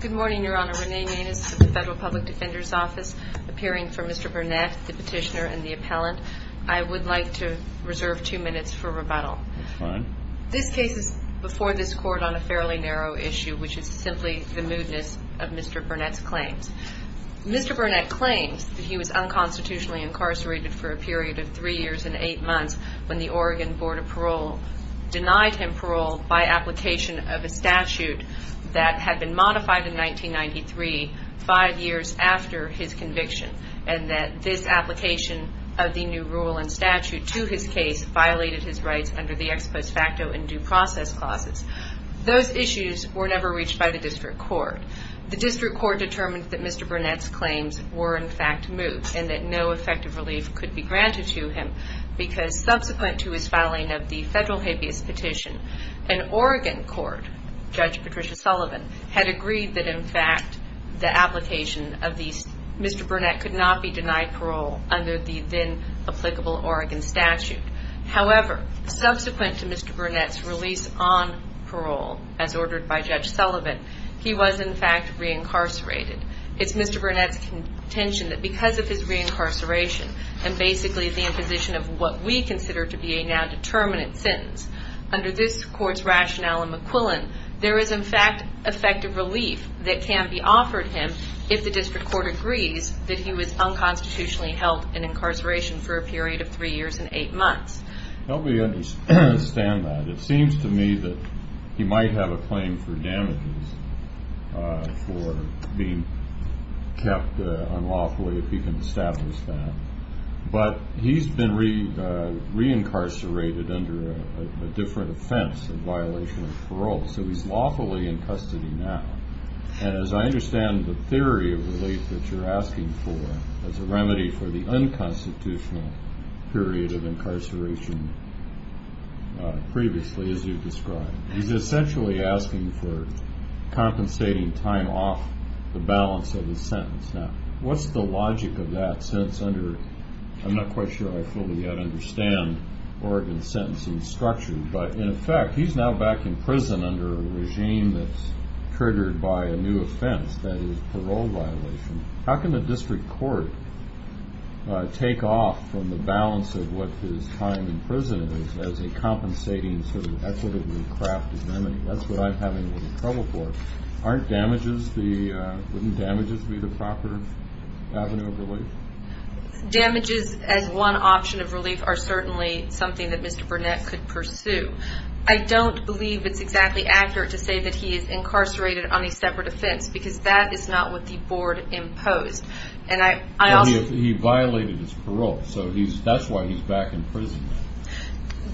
Good morning, Your Honor. Renee Maness of the Federal Public Defender's Office, appearing for Mr. Burnett, the petitioner and the appellant. I would like to reserve two minutes for rebuttal. That's fine. This case is before this Court on a fairly narrow issue, which is simply the moodness of Mr. Burnett's claims. Mr. Burnett claims that he was unconstitutionally incarcerated for a period of three years and eight months when the Oregon Board of Parole denied him parole by application of a statute that had been modified in 1993, five years after his conviction, and that this application of the new rule and statute to his case violated his rights under the ex post facto and due process clauses. Those issues were never reached by the District Court. The District Court determined that Mr. Burnett's claims were in fact moot and that no effective relief could be granted to him, because subsequent to his filing of the federal habeas petition, an Oregon court, Judge Patricia Sullivan, had agreed that in fact the application of the Mr. Burnett could not be denied parole under the then applicable Oregon statute. However, subsequent to Mr. Burnett's release on parole, as ordered by Judge Sullivan, he was in fact reincarcerated. It's Mr. Burnett's intention that because of his reincarceration and basically the imposition of what we consider to be a nondeterminant sentence, under this court's rationale and McQuillan, there is in fact effective relief that can be offered him if the District Court agrees that he was unconstitutionally held in incarceration for a period of three years and eight months. Nobody understands that. It seems to me that he might have a claim for damages for being kept unlawfully, if you can establish that. But he's been reincarcerated under a different offense of violation of parole, so he's lawfully in custody now. And as I understand the theory of relief that you're asking for as a remedy for the unconstitutional period of incarceration previously, as you described, he's essentially asking for compensating time off the balance of his sentence. Now, what's the logic of that, since under, I'm not quite sure I fully understand Oregon's sentencing structure, but in effect, he's now back in prison under a regime that's triggered by a new offense, that is parole violation. How can the District Court take off from the balance of what his time in prison is as a compensating sort of remedy? That's what it would craft as a remedy. That's what I'm having a little trouble for. Aren't damages the, wouldn't damages be the proper avenue of relief? Damages as one option of relief are certainly something that Mr. Burnett could pursue. I don't believe it's exactly accurate to say that he is incarcerated on a separate offense, because that is not what the Board imposed. And I also... He violated his parole, so that's why he's back in prison now.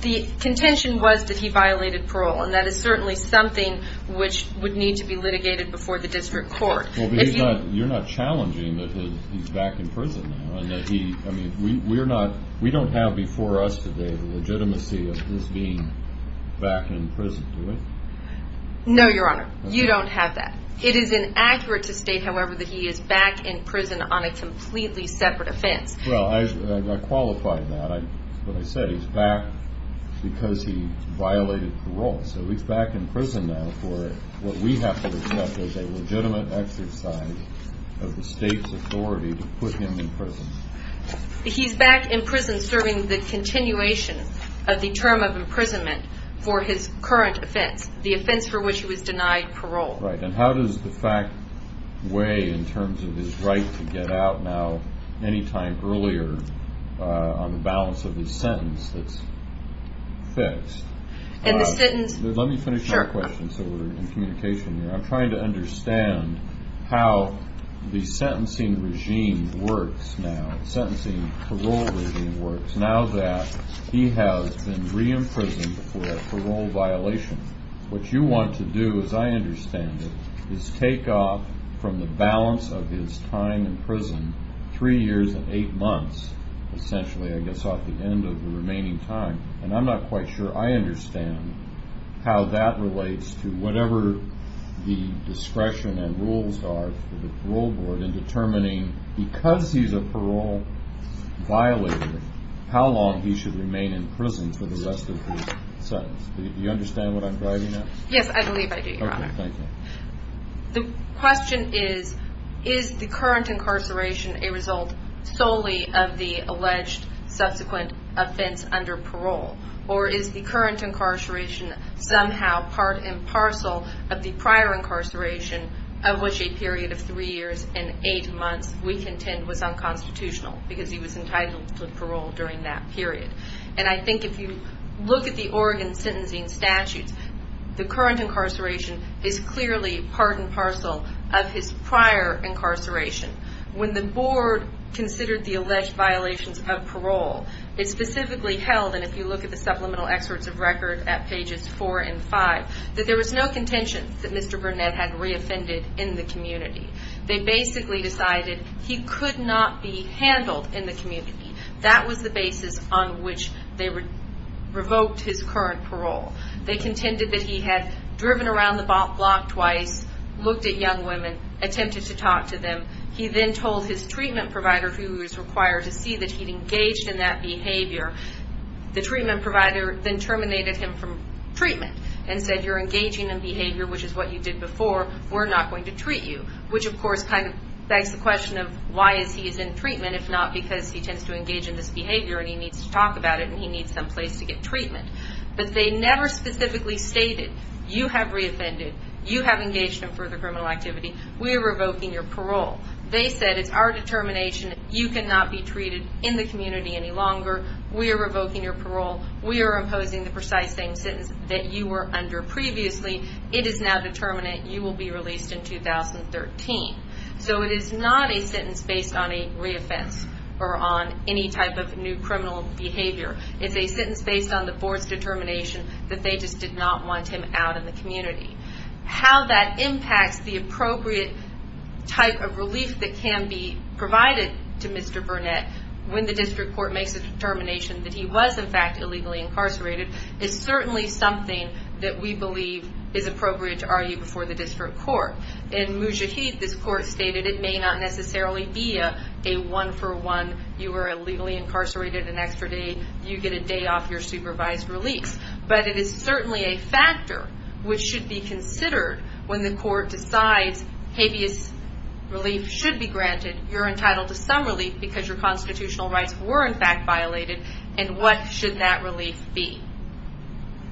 The contention was that he violated parole, and that is certainly something which would need to be litigated before the District Court. Well, but you're not challenging that he's back in prison now, and that he, I mean, we don't have before us today the legitimacy of this being back in prison, do we? No, Your Honor. You don't have that. It is inaccurate to state, however, that he is back in prison on a completely separate offense. Well, I qualified that. What I said, he's back because he violated parole. So he's back in prison now for what we have to accept as a legitimate exercise of the state's authority to put him in prison. He's back in prison serving the continuation of the term of imprisonment for his current offense, the offense for which he was denied parole. Right. And how does the fact weigh in terms of his right to get out now, any time earlier on the balance of his sentence that's fixed? And this didn't... Let me finish my question so we're in communication here. I'm trying to understand how the sentencing regime works now, the sentencing parole regime works, now that he has been re-imprisoned for a parole violation. What you want to do, as I understand it, is take off from the balance of his time in prison three years and eight months, essentially, I guess, off the end of the remaining time. And I'm not quite sure I understand how that relates to whatever the discretion and rules are for the parole board in determining, because he's a parole violator, how long he should remain in prison for the rest of his sentence. Do you understand what I'm driving at? Yes, I believe I do, Your Honor. Okay, thank you. The question is, is the current incarceration a result solely of the alleged subsequent offense under parole? Or is the current incarceration somehow part and parcel of the prior incarceration of which a period of three years and eight months we contend was unconstitutional because he was entitled to parole during that period? And I think if you look at the Oregon sentencing statutes, the current incarceration is clearly part and parcel of his prior incarceration. When the board considered the alleged violations of parole, it specifically held, and if you look at the supplemental excerpts of record at pages four and five, that there was no contention that Mr. Burnett had reoffended in the community. They basically decided he could not be handled in the community. That was the basis on which they revoked his current parole. They contended that he had driven around the block twice, looked at young women, attempted to talk to them. He then told his treatment provider, who was required to see that he'd engaged in that behavior. The treatment provider then terminated him from treatment and said, you're engaging in behavior which is what you did before, we're not going to treat you. Which of course kind of begs the question of why is he in treatment if not because he tends to engage in this behavior and he needs to talk about it and he needs some place to get treatment. But they never specifically stated, you have reoffended, you have engaged in further criminal activity, we are revoking your parole. They said, it's our determination, you cannot be treated in the community any longer, we are revoking your parole, we are imposing the precise same sentence that you were under previously, it is now determinate, you will be released in 2013. So it is not a sentence based on a reoffense or on any type of new criminal behavior. It's a sentence based on the board's determination that they just did not want him out in the community. How that impacts the appropriate type of relief that can be provided to Mr. Burnett when the district court makes a determination that he was in fact illegally incarcerated is certainly something that we believe is appropriate to argue before the district court. In Mujahid, this court stated it may not necessarily be a one for one, you were illegally incarcerated an extra day, you get a day off your supervised release. But it is certainly a factor which should be considered when the court decides habeas relief should be granted, you're entitled to some relief because your constitutional rights were in fact violated, and what should that relief be?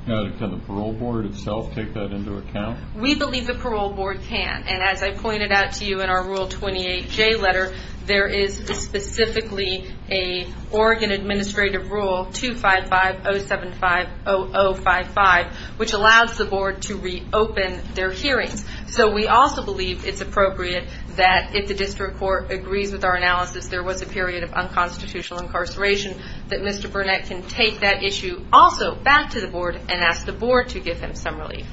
Can the parole board itself take that into account? We believe the parole board can, and as I pointed out to you in our Rule 28J letter, there is specifically an Oregon Administrative Rule 2550750055, which allows the board to reopen their hearings. So we also believe it's appropriate that if the district court agrees with our analysis there was a period of unconstitutional incarceration, that Mr. Burnett can take that issue also back to the board and ask the board to give him some relief.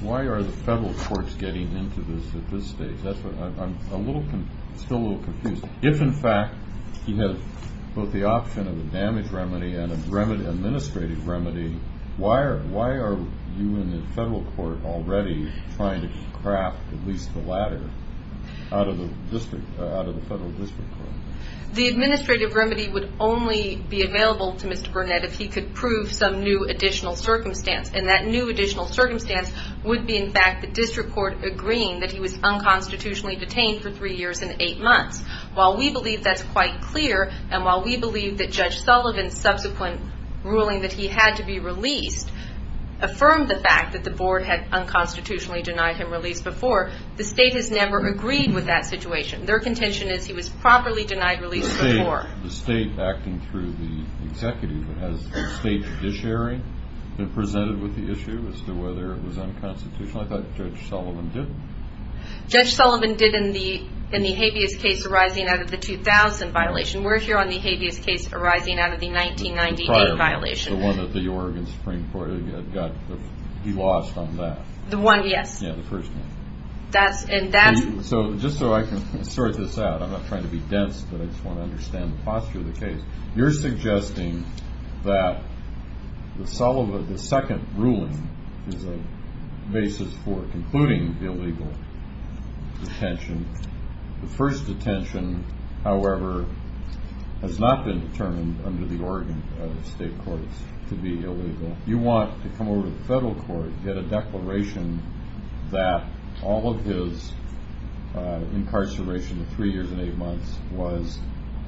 Why are the federal courts getting into this at this stage? I'm still a little confused. If in fact he had both the option of a damage remedy and an administrative remedy, why are you in the federal court already trying to craft at least the latter out of the federal district court? The administrative remedy would only be available to Mr. Burnett if he could prove some new additional circumstance, and that new additional circumstance would be in fact the district court agreeing that he was unconstitutionally detained for three years and eight months. While we believe that's quite clear, and while we believe that Judge Sullivan's subsequent ruling that he had to be released affirmed the fact that the board had unconstitutionally denied him release before, the state has never agreed with that situation. Their contention is he was properly denied release before. The state acting through the executive, has the state judiciary been presented with the issue as to whether it was unconstitutional? I thought Judge Sullivan did. Judge Sullivan did in the habeas case arising out of the 2000 violation. We're here on the one that the Oregon Supreme Court had got, he lost on that. The one, yes. Yeah, the first one. That's, and that's. So, just so I can sort this out, I'm not trying to be dense, but I just want to understand the posture of the case. You're suggesting that the Sullivan, the second ruling is a basis for concluding the illegal detention. The first detention, however, has not been determined under the Oregon state courts to be illegal. You want to come over to the federal court, get a declaration that all of his incarceration of three years and eight months was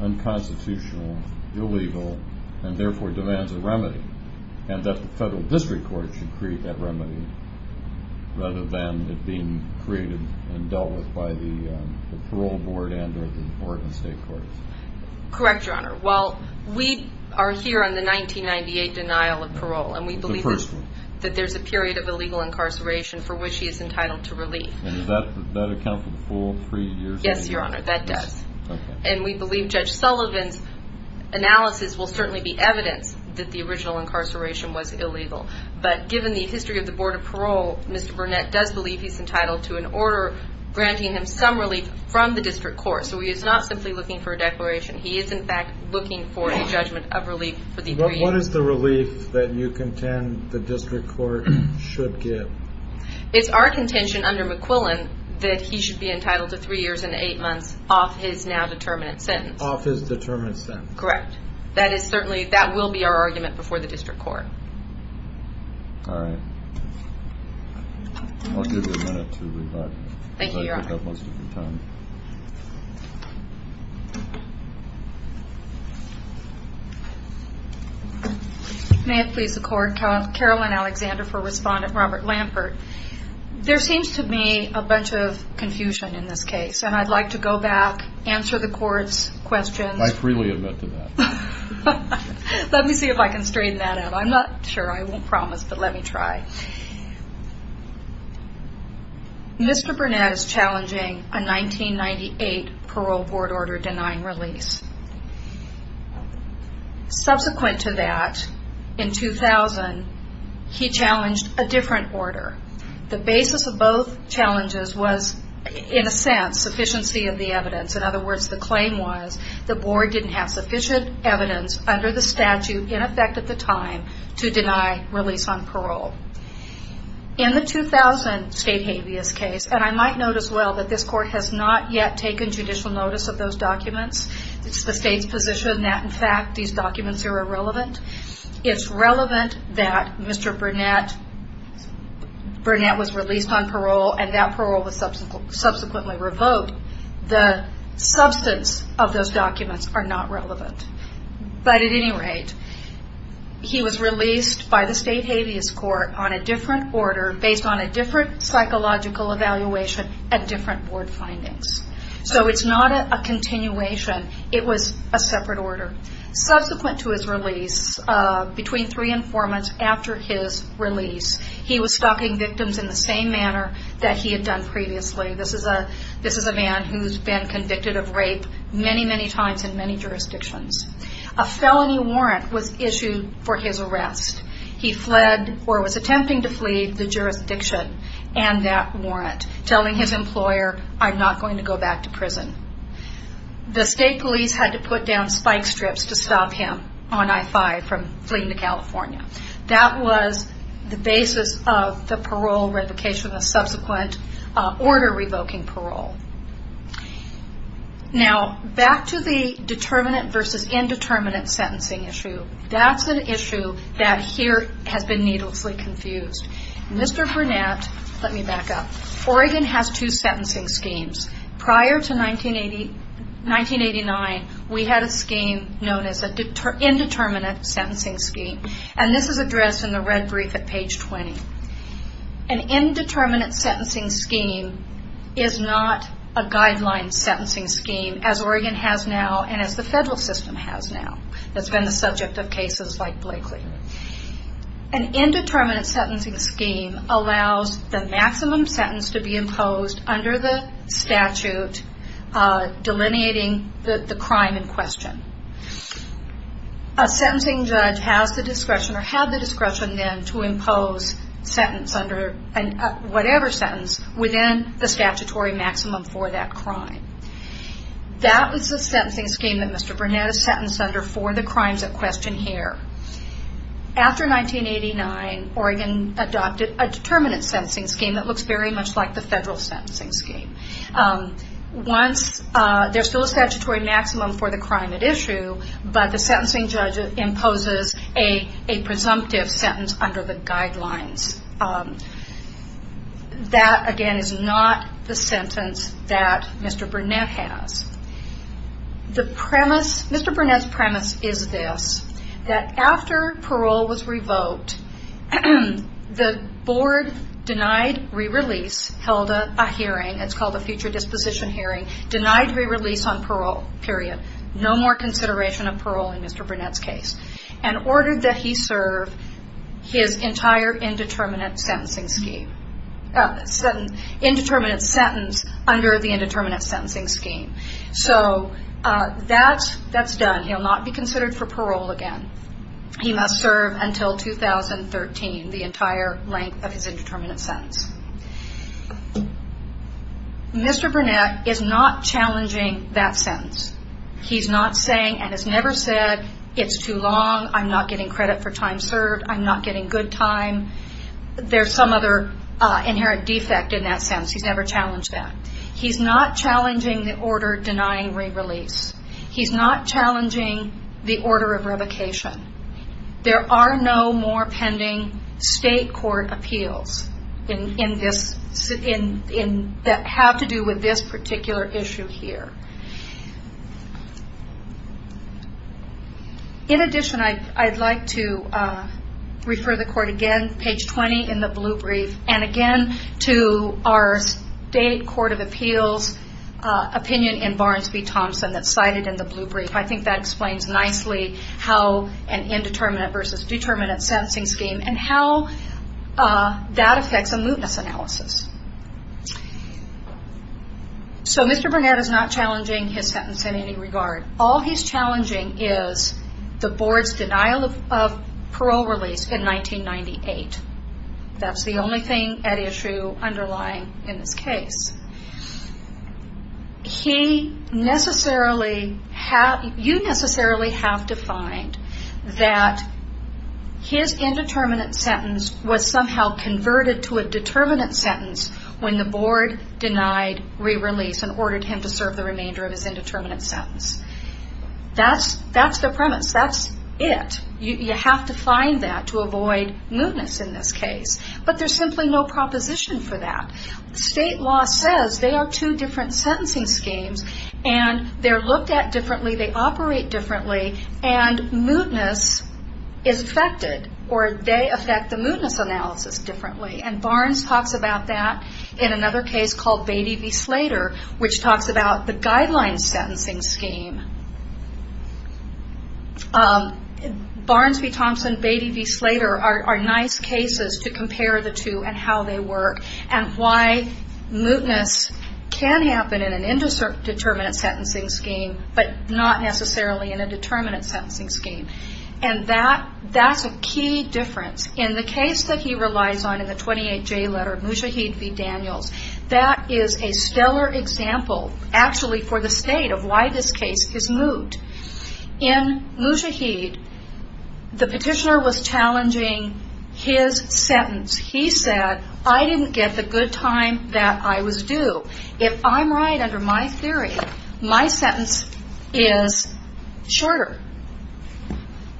unconstitutional, illegal, and therefore demands a remedy, and that the federal district court should create that remedy rather than it being created and dealt with by the parole board and or the Oregon state courts. Correct, Your Honor. Well, we are here on the 1998 denial of parole. The first one. And we believe that there's a period of illegal incarceration for which he is entitled to relief. And does that account for the full three years? Yes, Your Honor, that does. Okay. And we believe Judge Sullivan's analysis will certainly be evidence that the original incarceration was illegal. But given the history of the board of parole, Mr. Burnett does believe he's entitled to an order granting him some relief from the district court. So he is not simply looking for a declaration. He is, in fact, looking for a judgment of relief for the three years. What is the relief that you contend the district court should get? It's our contention under McQuillan that he should be entitled to three years and eight months off his now determinate sentence. Off his determinate sentence. Correct. That is certainly, that will be our argument before the district court. All right. I'll give you a minute to review that. Thank you, Your Honor. Because I could have most of your time. May it please the court, Caroline Alexander for Respondent Robert Lampert. There seems to me a bunch of confusion in this case. And I'd like to go back, answer the court's questions. I freely admit to that. Let me see if I can straighten that out. I'm not sure. I won't promise, but let me try. Mr. Burnett is challenging a 1998 parole board order denying release. Subsequent to that, in 2000, he challenged a different order. The basis of both challenges was, in a sense, sufficiency of the evidence. In other words, the claim was the board didn't have sufficient evidence under the statute, in effect at the time, to deny release on parole. In the 2000 state habeas case, and I might note as well that this court has not yet taken judicial notice of those documents. It's the state's position that, in fact, these documents are irrelevant. It's relevant that Mr. Burnett was released on parole, and that parole was subsequently revoked. The substance of those documents are not relevant. But at any rate, he was released by the state habeas court on a different order, based on a different psychological evaluation and different board findings. So it's not a continuation. It was a separate order. Subsequent to his release, between three and four months after his release, he was stalking victims in the same manner that he had done previously. This is a man who's been convicted of rape many, many times in many jurisdictions. A felony warrant was issued for his arrest. He fled, or was attempting to flee, the jurisdiction and that warrant, telling his employer, I'm not going to go back to prison. The state police had to put down spike strips to stop him on I-5 from fleeing to California. That was the basis of the parole revocation, the subsequent order revoking parole. Now, back to the determinate versus indeterminate sentencing issue. That's an issue that here has been needlessly confused. Mr. Burnett, let me back up. Oregon has two sentencing schemes. Prior to 1989, we had a scheme known as an indeterminate sentencing scheme. This is addressed in the red brief at page 20. An indeterminate sentencing scheme is not a guideline sentencing scheme, as Oregon has now and as the federal system has now. That's been the subject of cases like Blakely. An indeterminate sentencing scheme allows the maximum sentence to be imposed under the statute delineating the crime in question. A sentencing judge has the discretion to impose whatever sentence within the statutory maximum for that crime. That was the sentencing scheme that Mr. Burnett is sentenced under for the crimes at question here. After 1989, Oregon adopted a determinate sentencing scheme that looks very much like the federal sentencing scheme. There's still a statutory maximum for the crime at issue, but the sentencing judge imposes a presumptive sentence under the guidelines. That, again, is not the sentence that Mr. Burnett has. Mr. Burnett's premise is this, that after parole was revoked, the board denied re-release, held a hearing. It's called a future disposition hearing. Denied re-release on parole, period. No more consideration of parole in Mr. Burnett's case. And ordered that he serve his entire indeterminate sentencing scheme. Indeterminate sentence under the indeterminate sentencing scheme. So that's done. He'll not be considered for parole again. He must serve until 2013, the entire length of his indeterminate sentence. Mr. Burnett is not challenging that sentence. He's not saying, and has never said, it's too long, I'm not getting credit for time served, I'm not getting good time. There's some other inherent defect in that sentence. He's never challenged that. He's not challenging the order denying re-release. He's not challenging the order of revocation. There are no more pending state court appeals that have to do with this particular issue here. In addition, I'd like to refer the court again, page 20 in the blue brief, and again to our state court of appeals opinion in Barnes v. Thompson that's cited in the blue brief. I think that explains nicely how an indeterminate versus determinate sentencing scheme and how that affects a mootness analysis. So Mr. Burnett is not challenging his sentence in any regard. All he's challenging is the board's denial of parole release in 1998. That's the only thing at issue underlying in this case. You necessarily have to find that his indeterminate sentence was somehow converted to a determinate sentence when the board denied re-release and ordered him to serve the remainder of his indeterminate sentence. That's the premise. That's it. You have to find that to avoid mootness in this case. But there's simply no proposition for that. State law says they are two different sentencing schemes and they're looked at differently, they operate differently, and mootness is affected or they affect the mootness analysis differently. Barnes talks about that in another case called Beatty v. Slater which talks about the guideline sentencing scheme. Barnes v. Thompson, Beatty v. Slater are nice cases to compare the two and how they work and why mootness can happen in an indeterminate sentencing scheme but not necessarily in a determinate sentencing scheme. And that's a key difference. In the case that he relies on in the 28J letter, Mujahid v. Daniels, that is a stellar example actually for the state of why this case is moot. In Mujahid, the petitioner was challenging his sentence. He said, I didn't get the good time that I was due. If I'm right under my theory, my sentence is shorter,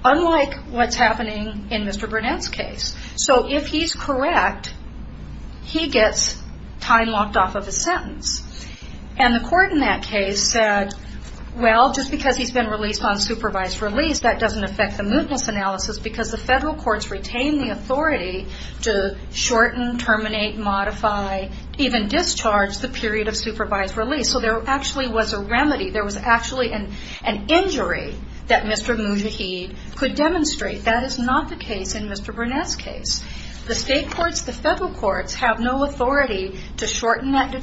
unlike what's happening in Mr. Burnett's case. So if he's correct, he gets time locked off of his sentence. And the court in that case said, well, just because he's been released on supervised release, that doesn't affect the mootness analysis because the federal courts retain the authority to shorten, terminate, modify, even discharge the period of supervised release. So there actually was a remedy. There was actually an injury that Mr. Mujahid could demonstrate. That is not the case in Mr. Burnett's case. The state courts, the federal courts, have no authority to shorten that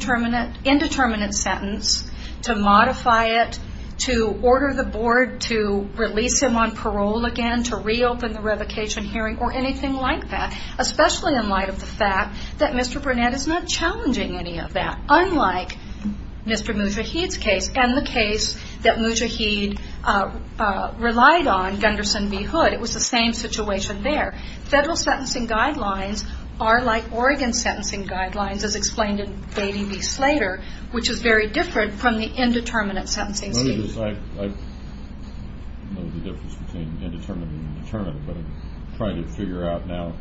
indeterminate sentence, to modify it, to order the board to release him on parole again, to reopen the revocation hearing, or anything like that, especially in light of the fact that Mr. Burnett is not challenging any of that, unlike Mr. Mujahid's case and the case that Mujahid relied on, Gunderson v. Hood. It was the same situation there. Federal sentencing guidelines are like Oregon sentencing guidelines, as explained in Beatty v. Slater, which is very different from the indeterminate sentencing. I know the difference between indeterminate and indeterminate, but I'm trying to figure out now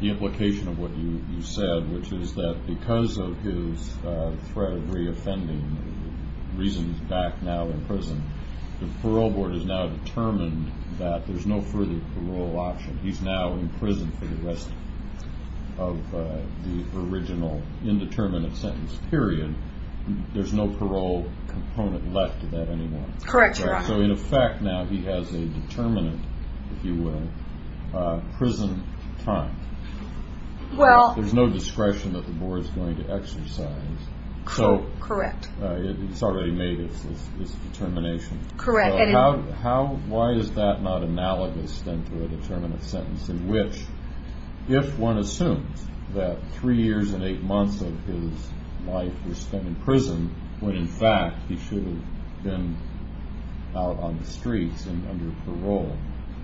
the implication of what you said, which is that because of his threat of reoffending reasons back now in prison, the parole board has now determined that there's no further parole option. He's now in prison for the rest of the original indeterminate sentence period. There's no parole component left of that anymore. Correct, Your Honor. So in effect now he has a determinate, if you will, prison time. There's no discretion that the board is going to exercise. Correct. It's already made its determination. Correct. Why is that not analogous then to a determinate sentence in which, if one assumes that three years and eight months of his life were spent in prison, when in fact he should have been out on the streets and under parole,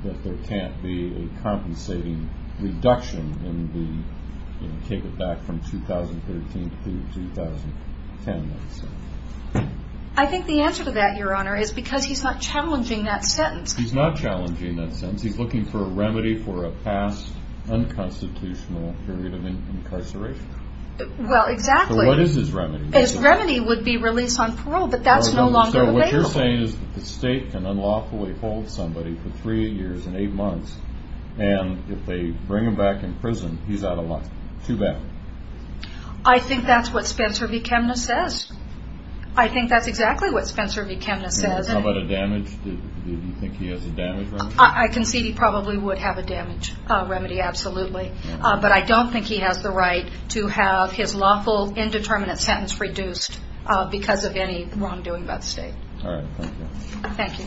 that there can't be a compensating reduction in the, take it back from 2013 through 2010. I think the answer to that, Your Honor, is because he's not challenging that sentence. He's not challenging that sentence. He's looking for a remedy for a past unconstitutional period of incarceration. Well, exactly. So what is his remedy? His remedy would be release on parole, but that's no longer available. So what you're saying is that the state can unlawfully hold somebody for three years and eight months, and if they bring him back in prison, he's out of luck. Too bad. I think that's what Spencer V. Chemnitz says. I think that's exactly what Spencer V. Chemnitz says. How about a damage? Do you think he has a damage remedy? I concede he probably would have a damage remedy, absolutely. But I don't think he has the right to have his lawful indeterminate sentence reduced because of any wrongdoing by the state. All right. Thank you. Thank you.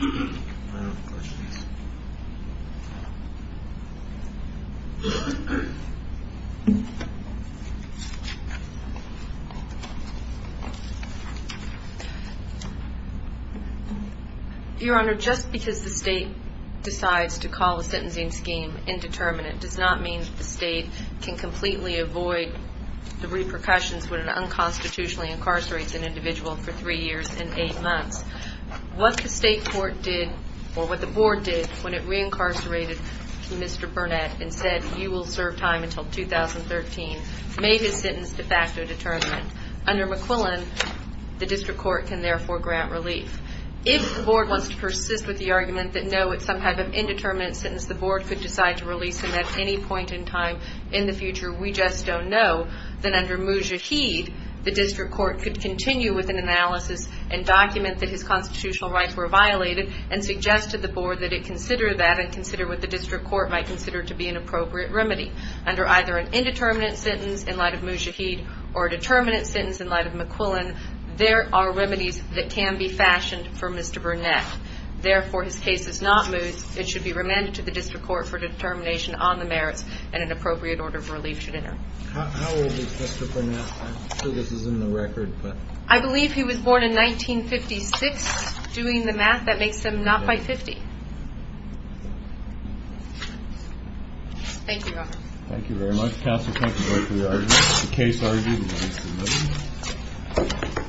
Any other questions? Your Honor, just because the state decides to call the sentencing scheme indeterminate does not mean that the state can completely avoid the repercussions when it unconstitutionally incarcerates an individual for three years and eight months. What the state court did, or what the board did, when it reincarcerated Mr. Burnett and said, you will serve time until 2013, made his sentence de facto determinate. Under McQuillan, the district court can therefore grant relief. If the board wants to persist with the argument that, no, it's some kind of indeterminate sentence, the board could decide to release him at any point in time in the future. We just don't know that under Mujahid, the district court could continue with an analysis and document that his constitutional rights were violated and suggest to the board that it consider that and consider what the district court might consider to be an appropriate remedy. Under either an indeterminate sentence in light of Mujahid or a determinate sentence in light of McQuillan, there are remedies that can be fashioned for Mr. Burnett. Therefore, his case is not moved. It should be remanded to the district court for determination on the merits and an appropriate order of relief should enter. How old is Mr. Burnett? I'm sure this is in the record. I believe he was born in 1956. Doing the math, that makes him not by 50. Thank you, Your Honor. Thank you very much. Counsel, thank you both for your arguments. The case argued.